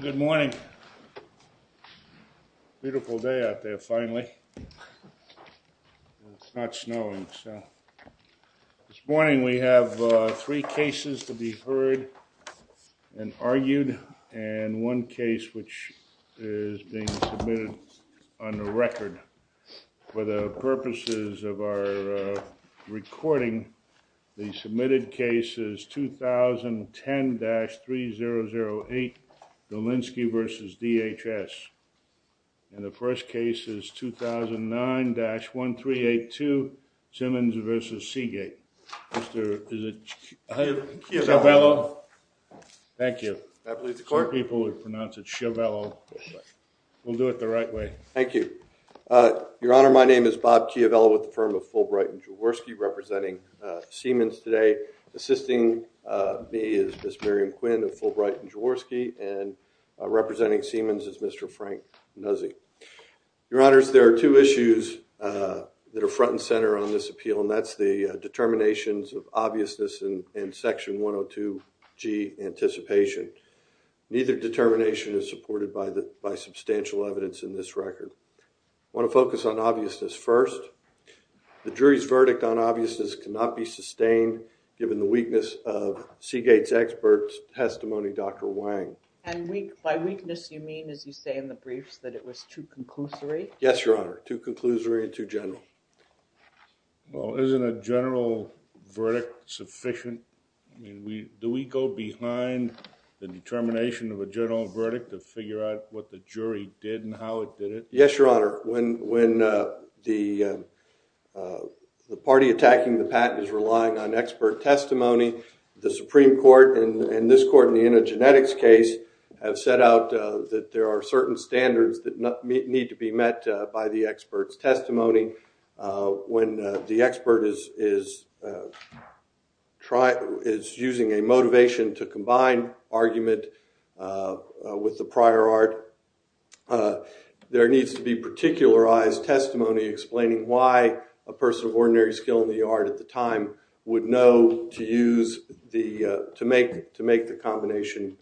Good morning. Beautiful day out there finally. It's not snowing. This morning we have three cases to be heard and argued and one case which is being submitted on the record. For the purposes of our recording, the submitted case is 2010-3008 Dolinsky v. DHS. And the first case is 2009-1382 Simmons v. Seagate. Is it Chiavello? Thank you. I believe the court people would pronounce it Chiavello. We'll do it the right way. Thank you. Your Honor, my name is Bob Chiavello with the firm of Fulbright and Jaworski representing Siemens today assisting me is Ms. Miriam Quinn of Fulbright and Jaworski and representing Siemens is Mr. Frank Nuzzi. Your Honors, there are two issues that are front and center on this appeal and that's the determinations of obviousness and section 102 G anticipation. Neither determination is supported by substantial evidence in this record. I want to focus on obviousness first. The weakness of Seagate's expert testimony, Dr. Wang. And by weakness you mean as you say in the briefs that it was too conclusory? Yes, Your Honor. Too conclusory and too general. Well, isn't a general verdict sufficient? Do we go behind the determination of a general verdict to figure out what the jury did and how it did it? Yes, Your Honor. When the party attacking the patent is testimony, the Supreme Court and this court in the antigenetics case have set out that there are certain standards that need to be met by the expert's testimony. When the expert is using a motivation to combine argument with the prior art, there needs to be particularized testimony explaining why a person of ordinary skill in the art at the time would know to use the to make to make the combination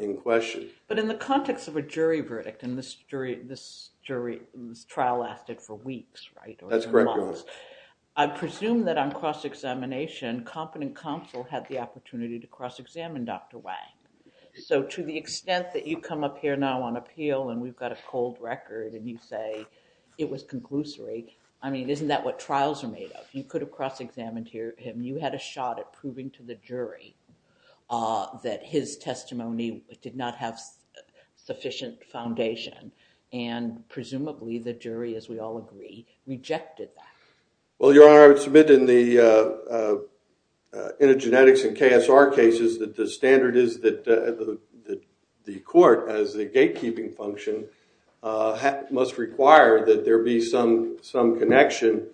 in question. But in the context of a jury verdict in this jury, this trial lasted for weeks, right? That's correct, Your Honors. I presume that on cross-examination, competent counsel had the opportunity to cross-examine Dr. Wang. So to the extent that you come up here now on appeal and we've got a cold record and you say it was conclusory, I mean, isn't that what trials are made of? You could have cross-examined him. You had a shot at proving to the jury that his testimony did not have sufficient foundation and presumably the jury, as we all agree, rejected that. Well, Your Honor, I would submit in the antigenetics and must require that there be some connection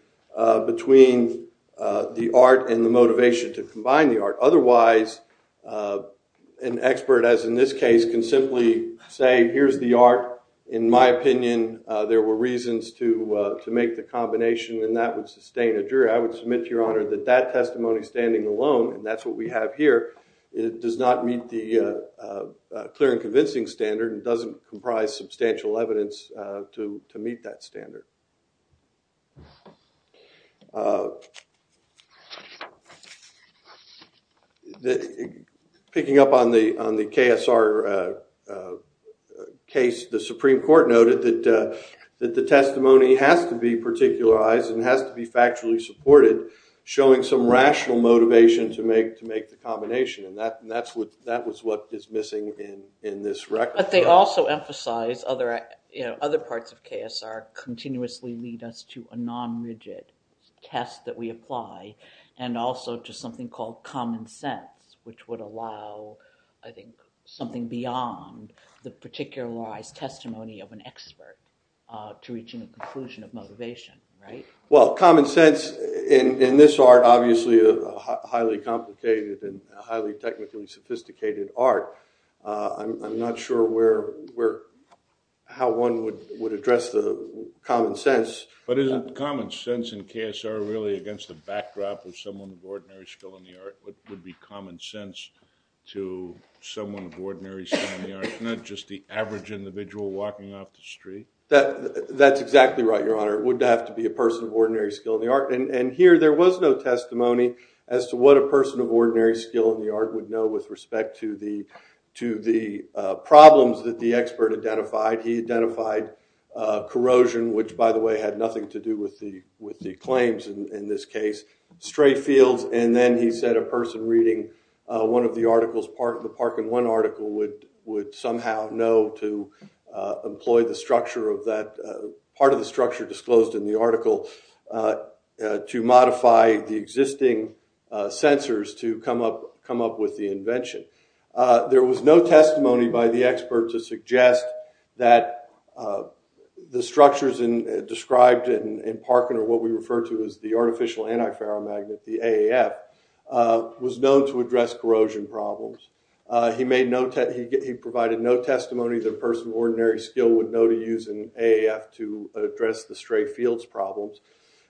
between the art and the motivation to combine the art. Otherwise, an expert, as in this case, can simply say here's the art. In my opinion, there were reasons to make the combination and that would sustain a jury. I would submit to Your Honor that that testimony standing alone, and that's what we have here, it does not meet the clear and reasonable evidence to meet that standard. Picking up on the on the KSR case, the Supreme Court noted that the testimony has to be particularized and has to be factually supported, showing some rational motivation to make the combination, and that other parts of KSR continuously lead us to a non-rigid test that we apply, and also to something called common sense, which would allow, I think, something beyond the particularized testimony of an expert to reach a conclusion of motivation, right? Well, common sense in this art, obviously, a highly complicated and highly technically sophisticated art, I'm not sure where how one would would address the common sense. But isn't common sense in KSR really against the backdrop of someone of ordinary skill in the art? What would be common sense to someone of ordinary skill in the art, not just the average individual walking off the street? That's exactly right, Your Honor. It would have to be a person of ordinary skill in the art, and here there was no testimony as to what a person of ordinary skill in the art would know with respect to the problems that the expert identified. He identified corrosion, which, by the way, had nothing to do with the claims in this case, stray fields, and then he said a person reading one of the articles, the Parkin One article, would somehow know to employ the structure of that, part of the structure disclosed in the article, to modify the existing sensors to come up with the invention. There was no testimony by the expert to suggest that the structures described in Parkin, or what we refer to as the artificial antiferromagnet, the AAF, was known to address corrosion problems. He provided no testimony that a person of ordinary skill would know to use an AAF to address the stray fields problems,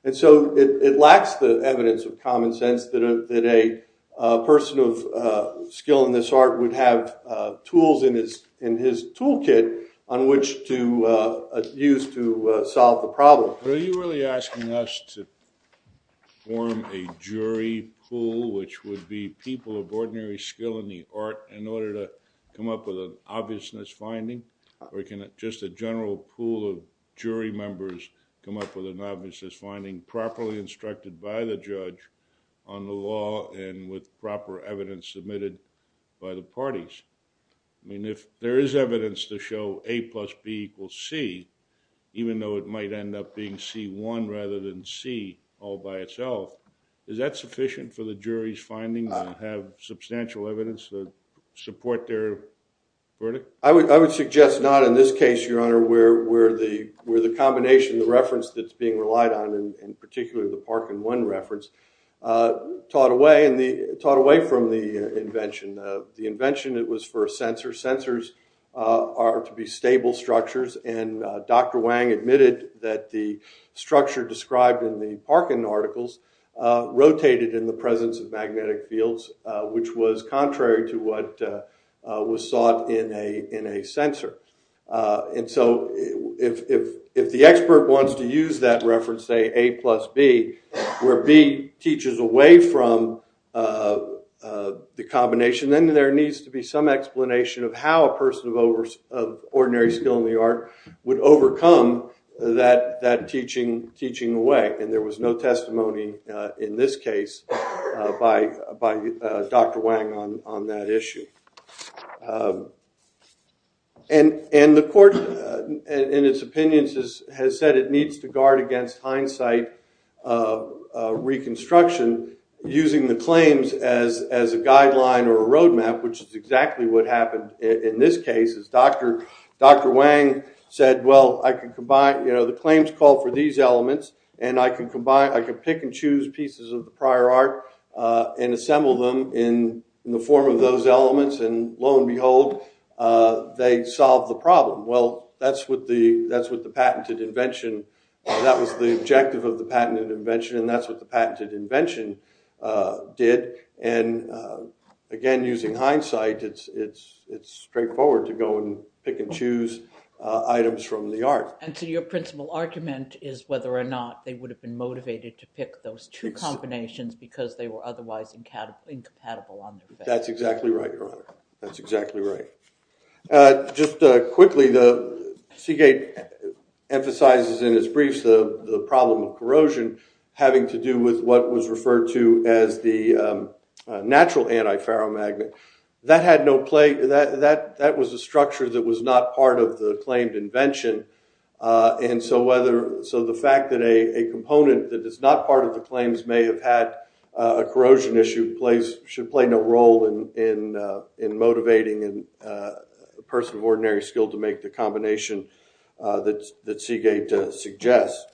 and so it lacks the person of skill in this art would have tools in his toolkit on which to use to solve the problem. Are you really asking us to form a jury pool, which would be people of ordinary skill in the art, in order to come up with an obviousness finding? Or can just a general pool of jury members come up with an obviousness finding properly instructed by the judge on the law and with proper evidence submitted by the parties? I mean, if there is evidence to show A plus B equals C, even though it might end up being C1 rather than C all by itself, is that sufficient for the jury's findings and have substantial evidence to support their verdict? I would suggest not in this case, Your being relied on, and particularly the Parkin 1 reference, taught away from the invention. The invention, it was for a sensor. Sensors are to be stable structures, and Dr. Wang admitted that the structure described in the Parkin articles rotated in the presence of magnetic fields, which was contrary to what was sought in a sensor. And so, if the expert wants to use that reference, say A plus B, where B teaches away from the combination, then there needs to be some explanation of how a person of ordinary skill in the art would overcome that teaching away. And there was no testimony in this case by Dr. Wang on that issue. And the court, in its opinions, has said it needs to guard against hindsight reconstruction using the claims as a guideline or a roadmap, which is exactly what happened in this case. Dr. Wang said, well, I can combine, you know, the claims call for these elements, and I can combine, I can pick and choose pieces of the prior art and assemble them in the form of those elements, and lo and behold, they solve the problem. Well, that's what the patented invention, that was the objective of the patented invention, and that's what the patented invention did. And again, using hindsight, it's straightforward to go and pick and choose items from the art. And so, your principal argument is whether or not they would have been motivated to pick those two combinations because they were otherwise incompatible. That's exactly right, Your Honor. That's exactly right. Just quickly, Seagate emphasizes in his briefs the problem of corrosion having to do with what was referred to as the natural anti-ferromagnet. That had no play, that was a structure that was not part of the claimed invention, and so the fact that a component that is not part of the claims may have had a corrosion issue should play no role in motivating a person of ordinary skill to make the combination that Seagate suggests.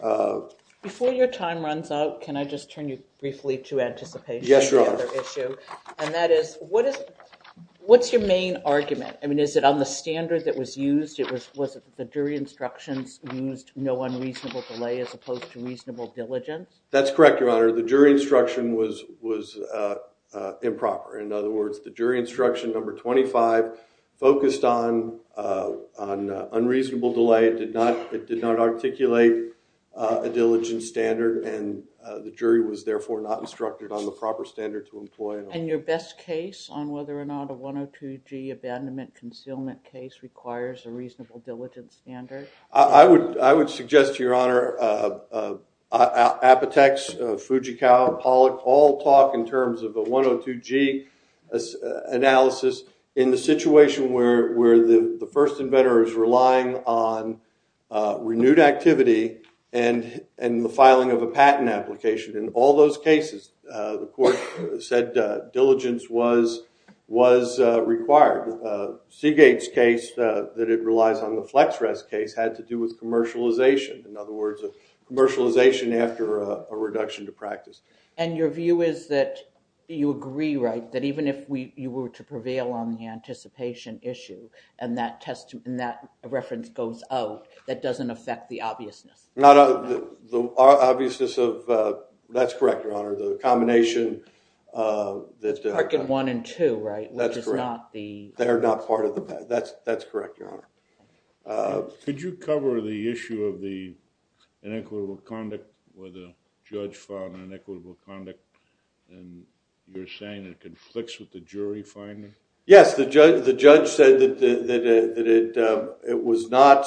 Before your time runs out, can I just turn you briefly to anticipation? Yes, Your Honor. And that is, what's your main argument? I mean, is it on a standard that was used? Was it that the jury instructions used no unreasonable delay as opposed to reasonable diligence? That's correct, Your Honor. The jury instruction was improper. In other words, the jury instruction number 25 focused on unreasonable delay. It did not articulate a diligence standard, and the jury was therefore not instructed on the proper standard to employ. And your best case on whether or not a 102G abandonment concealment case requires a reasonable diligence standard? I would suggest, Your Honor, Apotex, Fujikawa, Pollock, all talk in terms of a 102G analysis in the situation where the first inventor is relying on renewed activity and the filing of a patent application. In all those cases, the court said diligence was required. Seagate's case, that it relies on the FlexRest case, had to do with commercialization. In other words, commercialization after a reduction to practice. And your view is that you agree, right, that even if you were to prevail on the anticipation issue and that reference goes out, that doesn't affect the obviousness? The obviousness of, that's correct, Your Honor, the combination that... Parkin 1 and 2, right? That's correct. They're not part of the patent. That's correct, Your Honor. Could you cover the issue of the inequitable conduct where the judge filed an inequitable conduct and you're saying it conflicts with the jury finding? Yes, the judge said that it was not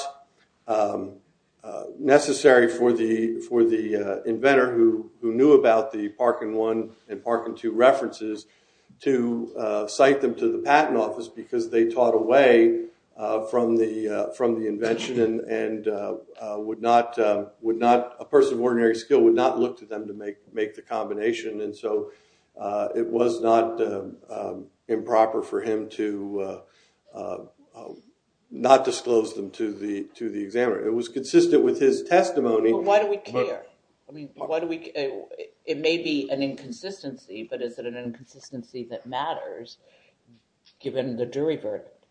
necessary for the inventor who knew about the Parkin 1 and Parkin 2 references to cite them to the patent office because they taught away from the invention and would not, a person of ordinary skill would not look to them to make the combination and so it was not improper for him to not disclose them to the examiner. It was consistent with his testimony. Why do we care? I mean, why do we... It may be an inconsistency, but is it an inconsistency that matters given the jury verdict?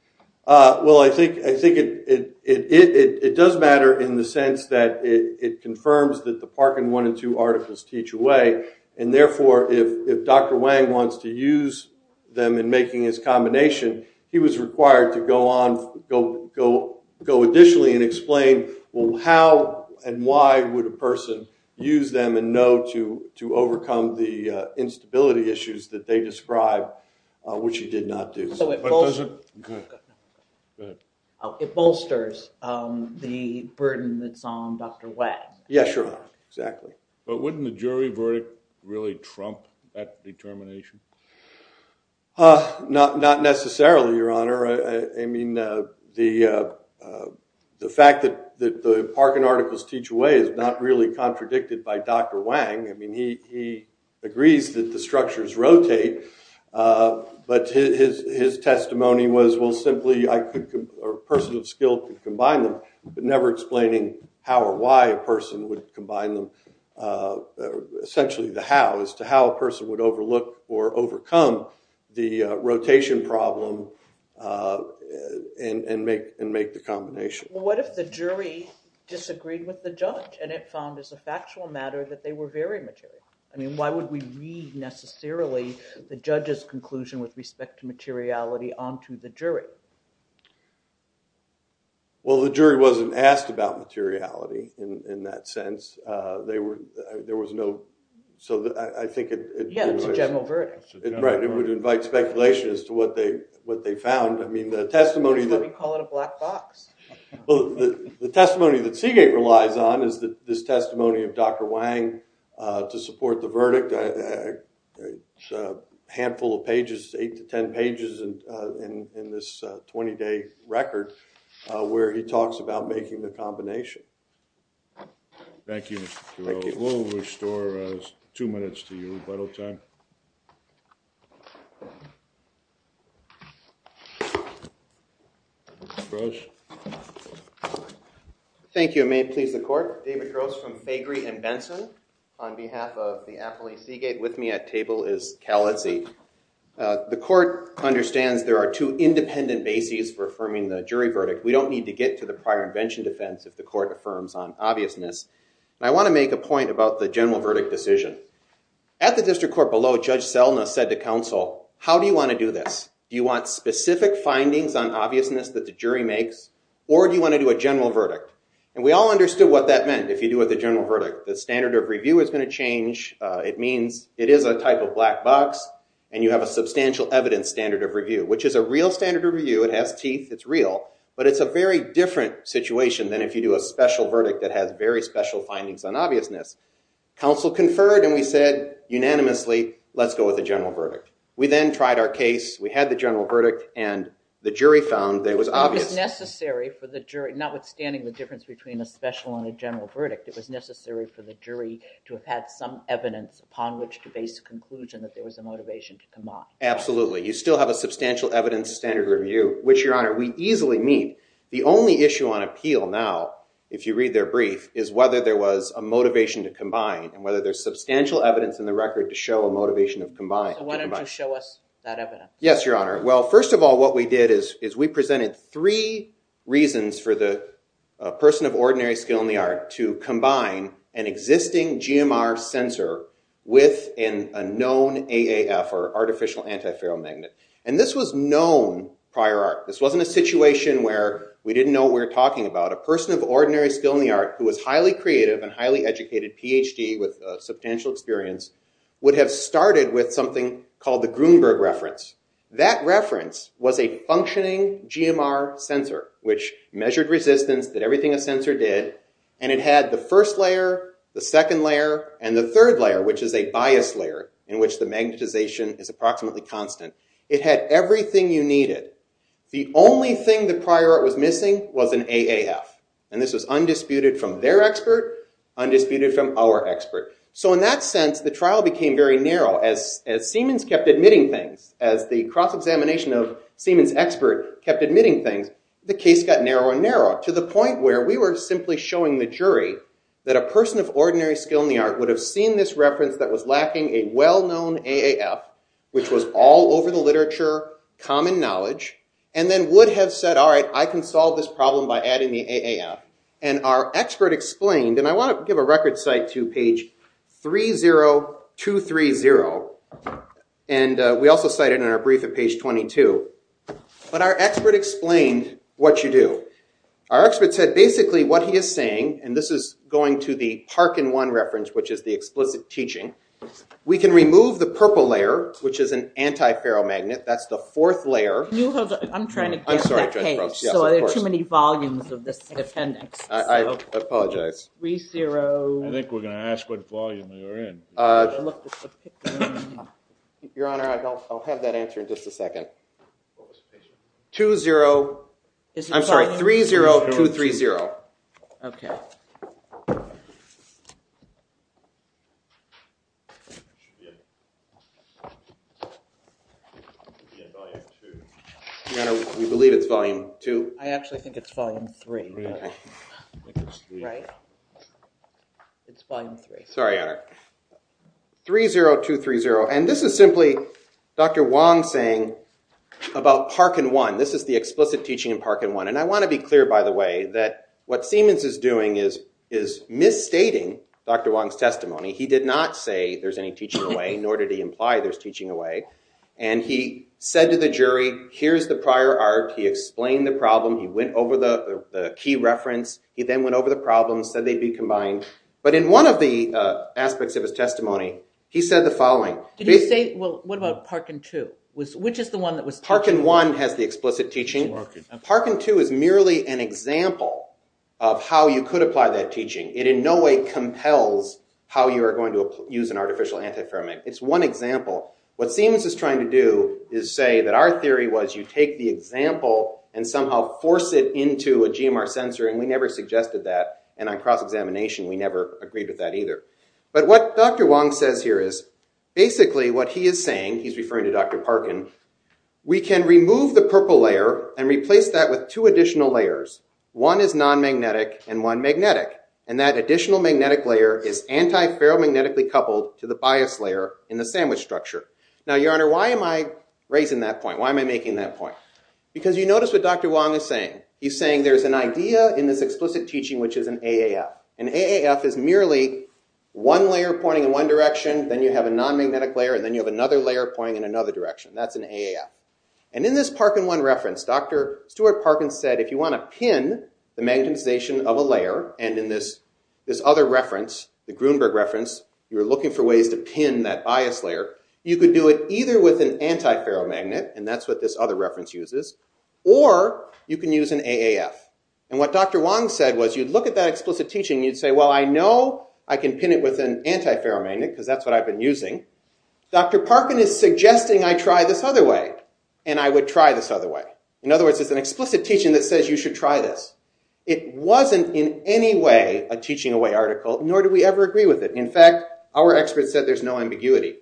Well, I think it does matter in the sense that it and therefore if Dr. Wang wants to use them in making his combination, he was required to go on, go additionally and explain, well, how and why would a person use them and know to overcome the instability issues that they described, which he did not do. It bolsters the burden that's on Dr. Wang. Yes, Your Honor, exactly. But wouldn't the jury verdict really trump that determination? Not necessarily, Your Honor. I mean, the fact that the Parkin articles teach away is not really contradicted by Dr. Wang. I mean, he agrees that the structures rotate, but his testimony was, well, simply a person of skill could combine them, but never explaining how or why a person would combine them, essentially the how, as to how a person would overlook or overcome the rotation problem and make the combination. What if the jury disagreed with the judge and it found as a factual matter that they were very material? I mean, why would we read necessarily the judge's conclusion with respect to materiality onto the jury? Well, the jury wasn't asked about materiality in that sense. They were, there was no, so I think it's a general verdict. Right, it would invite speculation as to what they what they found. I mean, the testimony that we call it a black box. Well, the testimony that Seagate relies on is that this testimony of Dr. Wang to support the verdict, a handful of pages, eight to nine pages in this 20-day record where he talks about making the combination. Thank you. We'll restore two minutes to you, if I don't time. Thank you. May it please the court. David Gross from Fagry and Benson. On behalf of the Appellee Seagate with me at table is Cal Etzi. The court understands there are two independent bases for affirming the jury verdict. We don't need to get to the prior invention defense if the court affirms on obviousness. I want to make a point about the general verdict decision. At the district court below, Judge Selna said to counsel, how do you want to do this? Do you want specific findings on obviousness that the jury makes or do you want to do a general verdict? And we all understood what that meant if you do with a general verdict. The standard of change, it means it is a type of black box and you have a substantial evidence standard of review, which is a real standard of review. It has teeth, it's real, but it's a very different situation than if you do a special verdict that has very special findings on obviousness. Counsel conferred and we said unanimously, let's go with a general verdict. We then tried our case, we had the general verdict and the jury found that it was obvious. It was necessary for the jury, notwithstanding the difference between a special and a general verdict, it was some evidence upon which to base a conclusion that there was a motivation to combine. Absolutely. You still have a substantial evidence standard review, which, Your Honor, we easily meet. The only issue on appeal now, if you read their brief, is whether there was a motivation to combine and whether there's substantial evidence in the record to show a motivation to combine. Why don't you show us that evidence? Yes, Your Honor. Well, first of all, what we did is we presented three reasons for the person of ordinary skill in the art to combine an existing GMR sensor with a known AAF, or artificial antiferromagnet, and this was known prior art. This wasn't a situation where we didn't know what we were talking about. A person of ordinary skill in the art who was highly creative and highly educated, PhD with substantial experience, would have started with something called the Grunberg reference. That reference was a functioning GMR sensor, which measured resistance that everything a sensor did, and it had the first layer, the second layer, and the third layer, which is a bias layer in which the magnetization is approximately constant. It had everything you needed. The only thing the prior art was missing was an AAF, and this was undisputed from their expert, undisputed from our expert. So in that sense, the trial became very narrow. As Siemens kept admitting things, as the cross-examination of Siemens expert kept admitting things, the case got narrower and narrower to the point where we were simply showing the jury that a person of ordinary skill in the art would have seen this reference that was lacking a well-known AAF, which was all over the literature, common knowledge, and then would have said, all right, I can solve this problem by adding the AAF, and our expert explained, and I want to give a record cite to page 30230, and we also cite it in our brief at page 22, but our expert explained what you do. Our expert said basically what he is saying, and this is going to the Parkin 1 reference, which is the explicit teaching, we can remove the purple layer, which is an anti-ferromagnet, that's the fourth layer. I'm sorry, Judge Brooks, there are too many volumes of this appendix. I apologize. I think we're going to ask what volume you're in. Your Honor, I'll have that answer in just a second. 20, I'm sorry, 30230. Okay. Your Honor, we believe it's volume 2. I actually think it's volume 3. Sorry, Your Honor. 30230, and this is simply Dr. Wong saying about Parkin 1. This is the explicit teaching in Parkin 1, and I want to be clear, by the way, that what Siemens is doing is misstating Dr. Wong's testimony. He did not say there's any teaching away, nor did he imply there's teaching away, and he said to the jury, here's the prior art. He explained the problem. He went over the key reference. He then went over the problems, said they'd be combined, but in one of the aspects of his testimony, he said the following. Did he say, well, what about Parkin 2? Which is the one that was teaching? Parkin 1 has the explicit teaching. Parkin 2 is merely an example of how you could apply that teaching. It in no way compels how you are going to use an artificial antiferromagnet. It's one example. What Siemens is trying to do is say that our theory was you take the example and somehow force it into a GMR sensor, and we never suggested that, and on cross-examination, we never agreed with that either. But what Dr. Wong says here is basically what he is saying, he's referring to Dr. Parkin, we can remove the purple layer and replace that with two additional layers. One is non-magnetic and one magnetic. And that additional magnetic layer is antiferromagnetically coupled to the bias layer in the sandwich structure. Now, your honor, why am I raising that point? Why am I making that point? Because you notice what Dr. Wong is saying. He's saying there's an idea in this explicit teaching which is an AAF. An AAF is merely one layer pointing in one direction, then you have a non-magnetic layer, and then you have another layer pointing in another direction. That's an AAF. And in this Parkin 1 reference, Dr. Stuart Parkin said if you want to pin the magnetization of a layer, and in this other reference, the Grunberg reference, you're looking for ways to pin that bias layer, you could do it either with an antiferromagnet, and that's what this other reference uses, or you can use an AAF. And what Dr. Wong said was you'd look at that explicit teaching, you'd say, well I know I can pin it with an antiferromagnet because that's what I've been using. Dr. Parkin is suggesting I try this other way, and I would try this other way. In other words, it's an teaching that says you should try this. It wasn't in any way a teaching away article, nor do we ever agree with it. In fact, our experts said there's no ambiguity.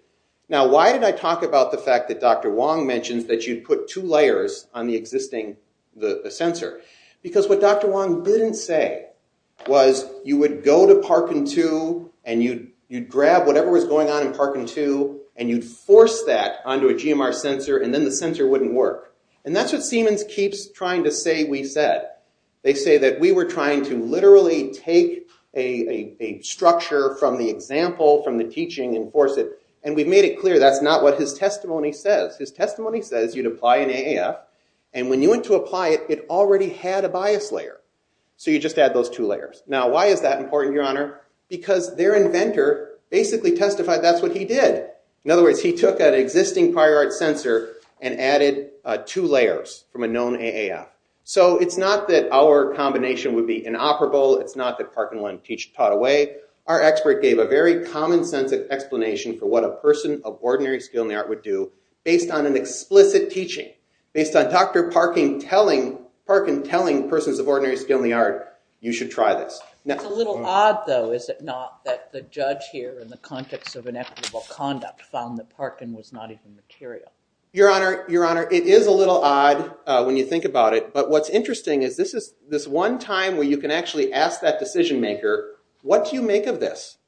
Now why did I talk about the fact that Dr. Wong mentions that you'd put two layers on the existing sensor? Because what Dr. Wong didn't say was you would go to Parkin 2, and you'd grab whatever was going on in Parkin 2, and you'd force that onto a GMR sensor, and then the sensor wouldn't work. And that's what Siemens keeps trying to say we said. They say that we were trying to literally take a structure from the example, from the teaching, and force it. And we've made it clear that's not what his testimony says. His testimony says you'd apply an AAF, and when you went to apply it, it already had a bias layer. So you just add those two layers. Now why is that important, Your Honor? Because their inventor basically testified that's what he did. In other words, he took an AAF. So it's not that our combination would be inoperable. It's not that Parkin 1 taught away. Our expert gave a very common-sense explanation for what a person of ordinary skill in the art would do based on an explicit teaching, based on Dr. Parkin telling persons of ordinary skill in the art you should try this. It's a little odd though, is it not, that the judge here in the context of inequitable conduct found that Parkin was not even material. Your Honor, it's odd when you think about it, but what's interesting is this one time where you can actually ask that decision-maker, what do you make of this?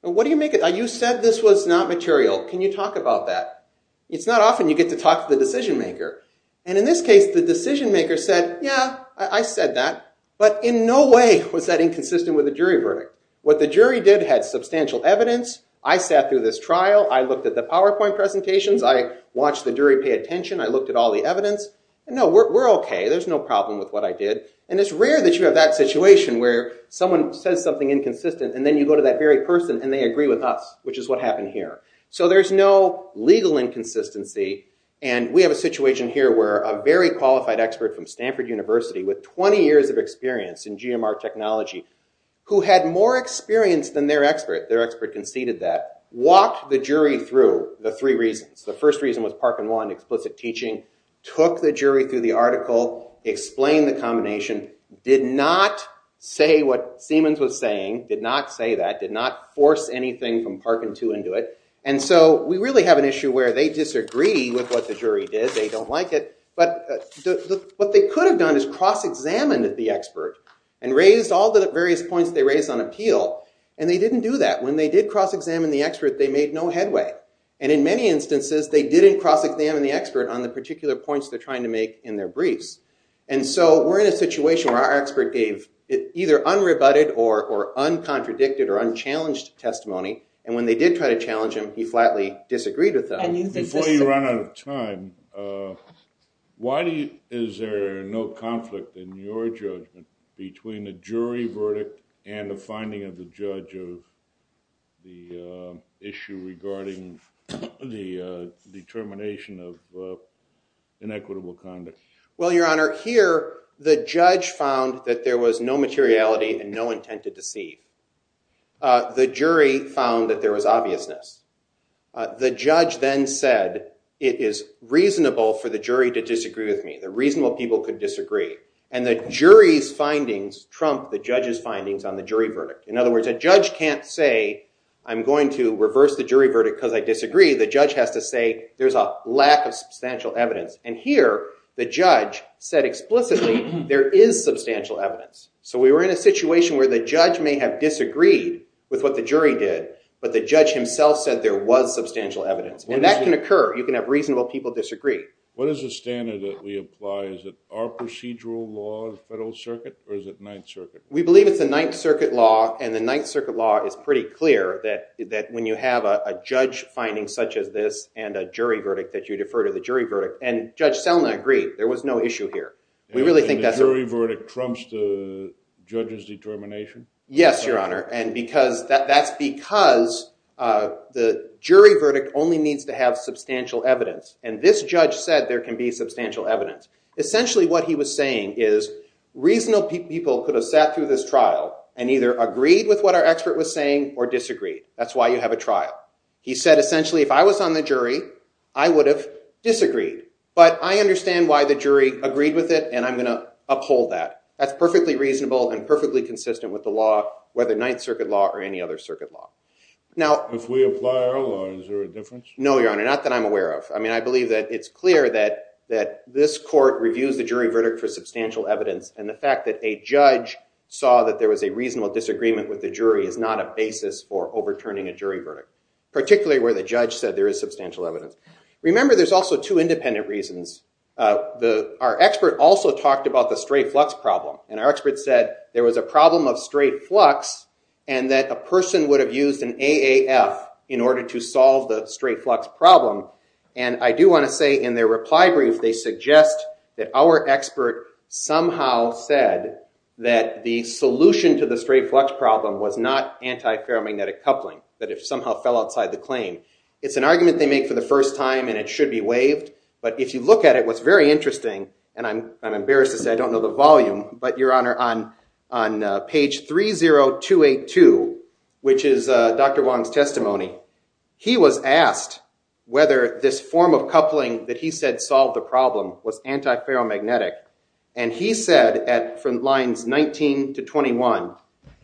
What do you make of it? You said this was not material. Can you talk about that? It's not often you get to talk to the decision-maker. And in this case, the decision-maker said, yeah, I said that, but in no way was that inconsistent with the jury verdict. What the jury did had substantial evidence. I sat through this trial. I looked at the PowerPoint presentations. I watched the jury pay the evidence. No, we're okay. There's no problem with what I did. And it's rare that you have that situation where someone says something inconsistent and then you go to that very person and they agree with us, which is what happened here. So there's no legal inconsistency and we have a situation here where a very qualified expert from Stanford University with 20 years of experience in GMR technology, who had more experience than their expert, their expert conceded that, walked the jury through the three reasons. The first reason was Parkin 1, explicit teaching, took the jury through the article, explained the combination, did not say what Siemens was saying, did not say that, did not force anything from Parkin 2 into it. And so we really have an issue where they disagree with what the jury did. They don't like it. But what they could have done is cross-examined the expert and raised all the various points they raised on appeal. And they didn't do that. When they did cross-examine the expert, they made no headway. And in many instances, they didn't cross-examine the expert on the particular points they're trying to make in their briefs. And so we're in a situation where our expert gave either unrebutted or or uncontradicted or unchallenged testimony. And when they did try to challenge him, he flatly disagreed with them. Before you run out of time, why do you, is there no conflict in your judgment between the jury verdict and the finding of the judge of the issue regarding the determination of inequitable conduct? Well, your honor, here the judge found that there was no materiality and no intent to deceive. The jury found that there was obviousness. The judge then said it is reasonable for the jury to disagree with me. The reasonable people could disagree. And the jury's findings trump the judge's findings on the jury verdict. In other words, a judge can't say I'm going to reverse the jury verdict because I disagree. The judge has to say there's a lack of substantial evidence. And here, the judge said explicitly there is substantial evidence. So we were in a situation where the judge may have disagreed with what the jury did, but the judge himself said there was substantial evidence. And that can occur. You can have reasonable people disagree. What is the standard that we apply? Is it our procedural law of the Federal Circuit, or is it the Ninth Circuit? We believe it's the Ninth Circuit law, and the Ninth Circuit law is pretty clear that when you have a judge finding such as this and a jury verdict that you defer to the jury verdict. And Judge Selna agreed. There was no issue here. We really think that's... And the jury verdict trumps the judge's determination? Yes, your honor. And because, that's because the jury verdict only needs to have substantial evidence. And this judge said there can be substantial evidence. Essentially what he was saying is reasonable people could have sat through this trial and either agreed with what our expert was saying or disagreed. That's why you have a trial. He said essentially if I was on the jury, I would have disagreed. But I understand why the jury agreed with it, and I'm gonna uphold that. That's perfectly reasonable and perfectly consistent with the law, whether Ninth Circuit law or any other Circuit law. Now... If we apply our law, is there a difference? No, your honor. Not that I'm aware of. I mean, I think it's clear that this court reviews the jury verdict for substantial evidence. And the fact that a judge saw that there was a reasonable disagreement with the jury is not a basis for overturning a jury verdict. Particularly where the judge said there is substantial evidence. Remember, there's also two independent reasons. Our expert also talked about the straight flux problem. And our expert said there was a problem of straight flux and that a person would have used an AAF in order to solve the straight flux problem. And I do want to say in their reply brief, they suggest that our expert somehow said that the solution to the straight flux problem was not anti-paramagnetic coupling. That it somehow fell outside the claim. It's an argument they make for the first time, and it should be waived. But if you look at it, what's very interesting, and I'm embarrassed to say I don't know the volume, but your honor, on on page 30282, which is Dr. Wong's testimony, he was asked whether this form of coupling that he said solved the problem was anti-paramagnetic. And he said at from lines 19 to 21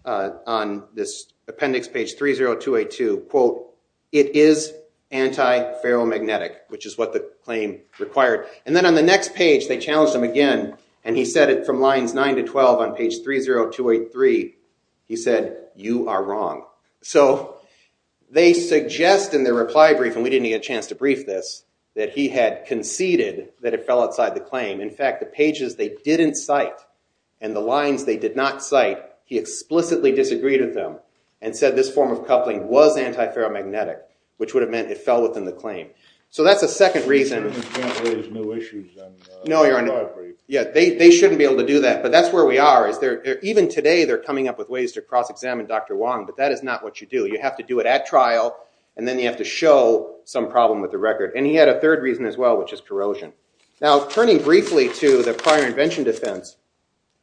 on this appendix, page 30282, quote, it is anti-paramagnetic, which is what the claim required. And then on the next page, they challenged him again, and he said it from lines 9 to 12 on page 30283, he said, you are wrong. So they suggest in their reply brief, and we didn't get a that he had conceded that it fell outside the claim. In fact, the pages they didn't cite, and the lines they did not cite, he explicitly disagreed with them, and said this form of coupling was anti-paramagnetic, which would have meant it fell within the claim. So that's a second reason. You can't raise new issues on the reply brief. No, your honor. Yeah, they shouldn't be able to do that. But that's where we are. Even today, they're coming up with ways to cross-examine Dr. Wong, but that is not what you do. You have to do it at trial, and then you have to show some with the record. And he had a third reason as well, which is corrosion. Now turning briefly to the prior invention defense,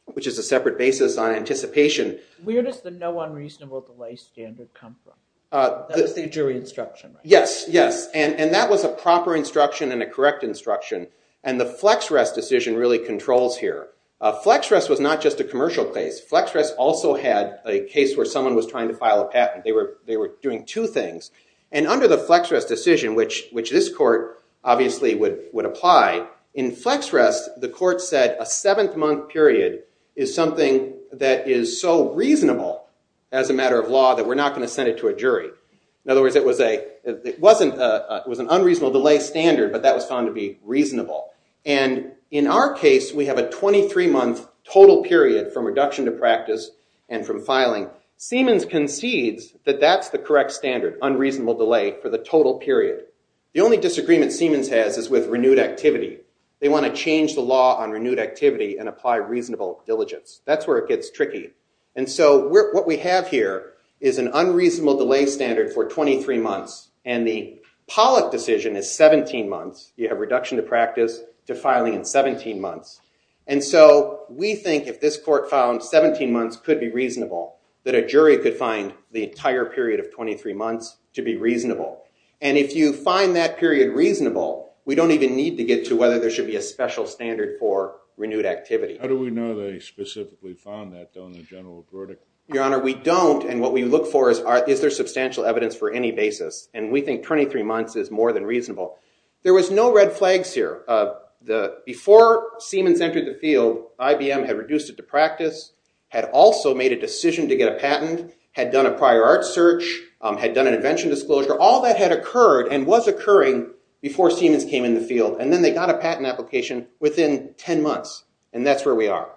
which is a separate basis on anticipation. Where does the no unreasonable delay standard come from? That was the jury instruction. Yes, yes, and that was a proper instruction and a correct instruction, and the FlexRest decision really controls here. FlexRest was not just a commercial case. FlexRest also had a case where someone was trying to file a patent. They were doing two things, and under the which this court obviously would apply. In FlexRest, the court said a seventh month period is something that is so reasonable as a matter of law that we're not going to send it to a jury. In other words, it was an unreasonable delay standard, but that was found to be reasonable. And in our case, we have a 23-month total period from reduction to practice and from filing. Siemens concedes that that's the correct standard, unreasonable delay for the only disagreement Siemens has is with renewed activity. They want to change the law on renewed activity and apply reasonable diligence. That's where it gets tricky, and so what we have here is an unreasonable delay standard for 23 months, and the Pollock decision is 17 months. You have reduction to practice to filing in 17 months, and so we think if this court found 17 months could be reasonable, that a jury could find the entire period of 23 months to be in that period reasonable. We don't even need to get to whether there should be a special standard for renewed activity. How do we know they specifically found that, though, in the general verdict? Your Honor, we don't, and what we look for is is there substantial evidence for any basis, and we think 23 months is more than reasonable. There was no red flags here. Before Siemens entered the field, IBM had reduced it to practice, had also made a decision to get a patent, had done a prior art search, had done an invention disclosure. All that had occurred before Siemens came in the field, and then they got a patent application within 10 months, and that's where we are.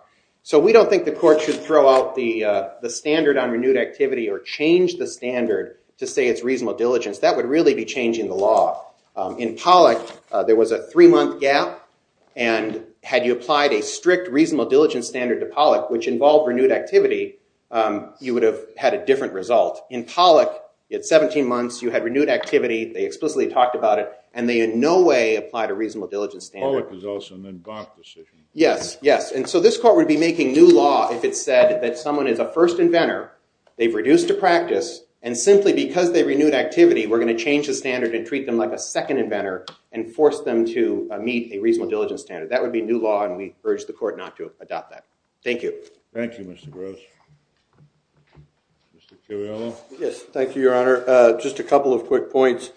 So we don't think the court should throw out the standard on renewed activity or change the standard to say it's reasonable diligence. That would really be changing the law. In Pollock, there was a three-month gap, and had you applied a strict reasonable diligence standard to Pollock, which involved renewed activity, you would have had a different result. In Pollock, at 17 months, you had renewed activity. They explicitly talked about it, and they in no way applied a reasonable diligence standard. Pollock is also an advanced decision. Yes, yes, and so this court would be making new law if it said that someone is a first inventor, they've reduced to practice, and simply because they renewed activity, we're going to change the standard and treat them like a second inventor and force them to meet a reasonable diligence standard. That would be new law, and we urge the court not to adopt that. Thank you. Thank you, Mr. Gross. Mr. Curiello? Yes, thank you, Your Honor. Just a minute.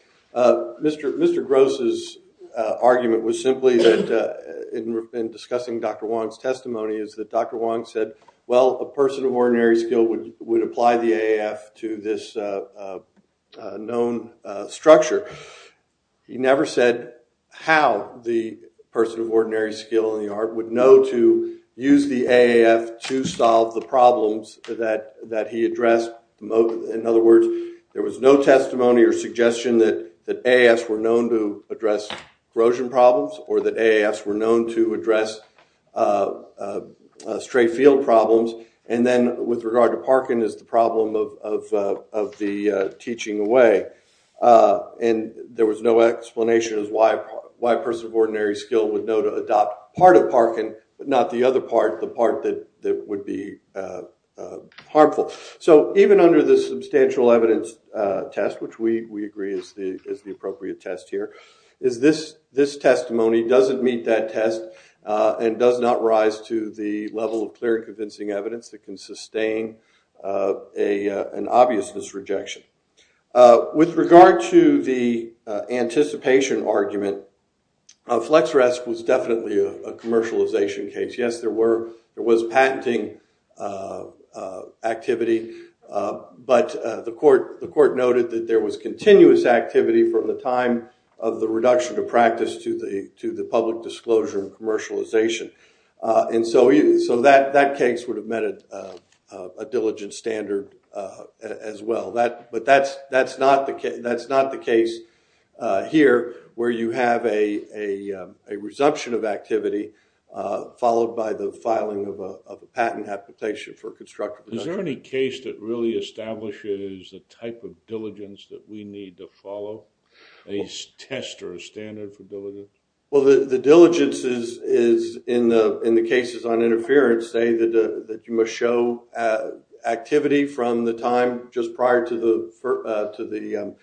Mr. Gross's argument was simply that, in discussing Dr. Wong's testimony, is that Dr. Wong said, well, a person of ordinary skill would apply the AAF to this known structure. He never said how the person of ordinary skill in the art would know to use the AAF to solve the problems that he addressed. In other words, there was no testimony or suggestion that AAFs were known to address corrosion problems or that AAFs were known to address stray field problems. And then, with regard to Parkin, is the problem of the teaching away, and there was no explanation as why a person of ordinary skill would know to adopt part of Parkin, but not the other part, the part that would be harmful. So, even under this substantial evidence test, which we agree is the appropriate test here, is this testimony doesn't meet that test and does not rise to the level of clear convincing evidence that can sustain an obviousness rejection. With regard to the anticipation argument, FlexRESC was definitely a commercialization case. Yes, there were patenting activity, but the court noted that there was continuous activity from the time of the reduction of practice to the public disclosure and commercialization. And so, that case would have met a diligent standard as well. But that's not the case here, where you have a resumption of activity followed by the filing of a patent application for constructive... Is there any case that really establishes the type of diligence that we need to follow, a test or a standard for diligence? Well, the diligence is, in the cases on interference, say that you must show activity from the time just prior to the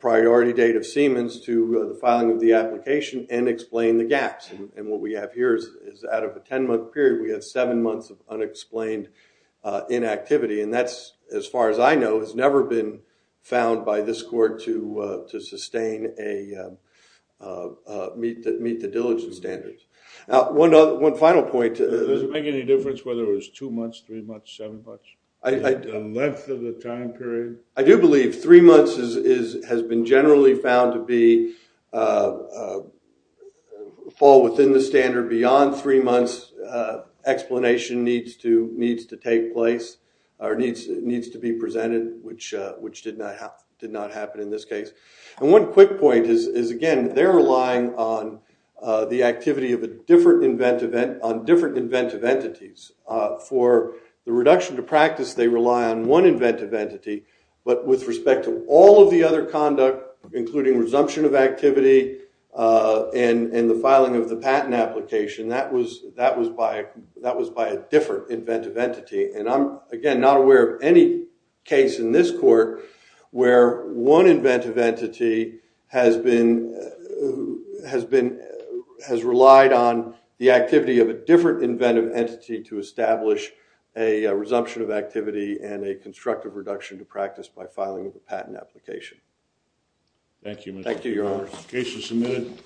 priority date of Siemens to the filing of the application and explain the gaps. And what we have here is out of a 10-month period, we have seven months of unexplained inactivity. And that's, as far as I know, has never been found by this court to sustain a... meet the diligence standards. Now, one final point... Does it make any difference whether it was two months, three months, seven months? The length of the time period? I do believe three months has been generally found to be... fall within the standard beyond three months. Explanation needs to take place or needs to be presented, which did not happen in this case. And one quick point is, again, they're relying on the activity of a different inventive... on different inventive entities. For the reduction to practice, they rely on one inventive entity. But with respect to all of the other conduct, including resumption of activity and the filing of the patent application, that was by a different inventive entity. And I'm, again, not aware of any case in this court where one inventive entity has been... has relied on the activity of a different inventive entity to establish a resumption of activity and a constructive reduction to practice by filing of the patent application. Thank you. Thank you, Your Honor. Case is submitted.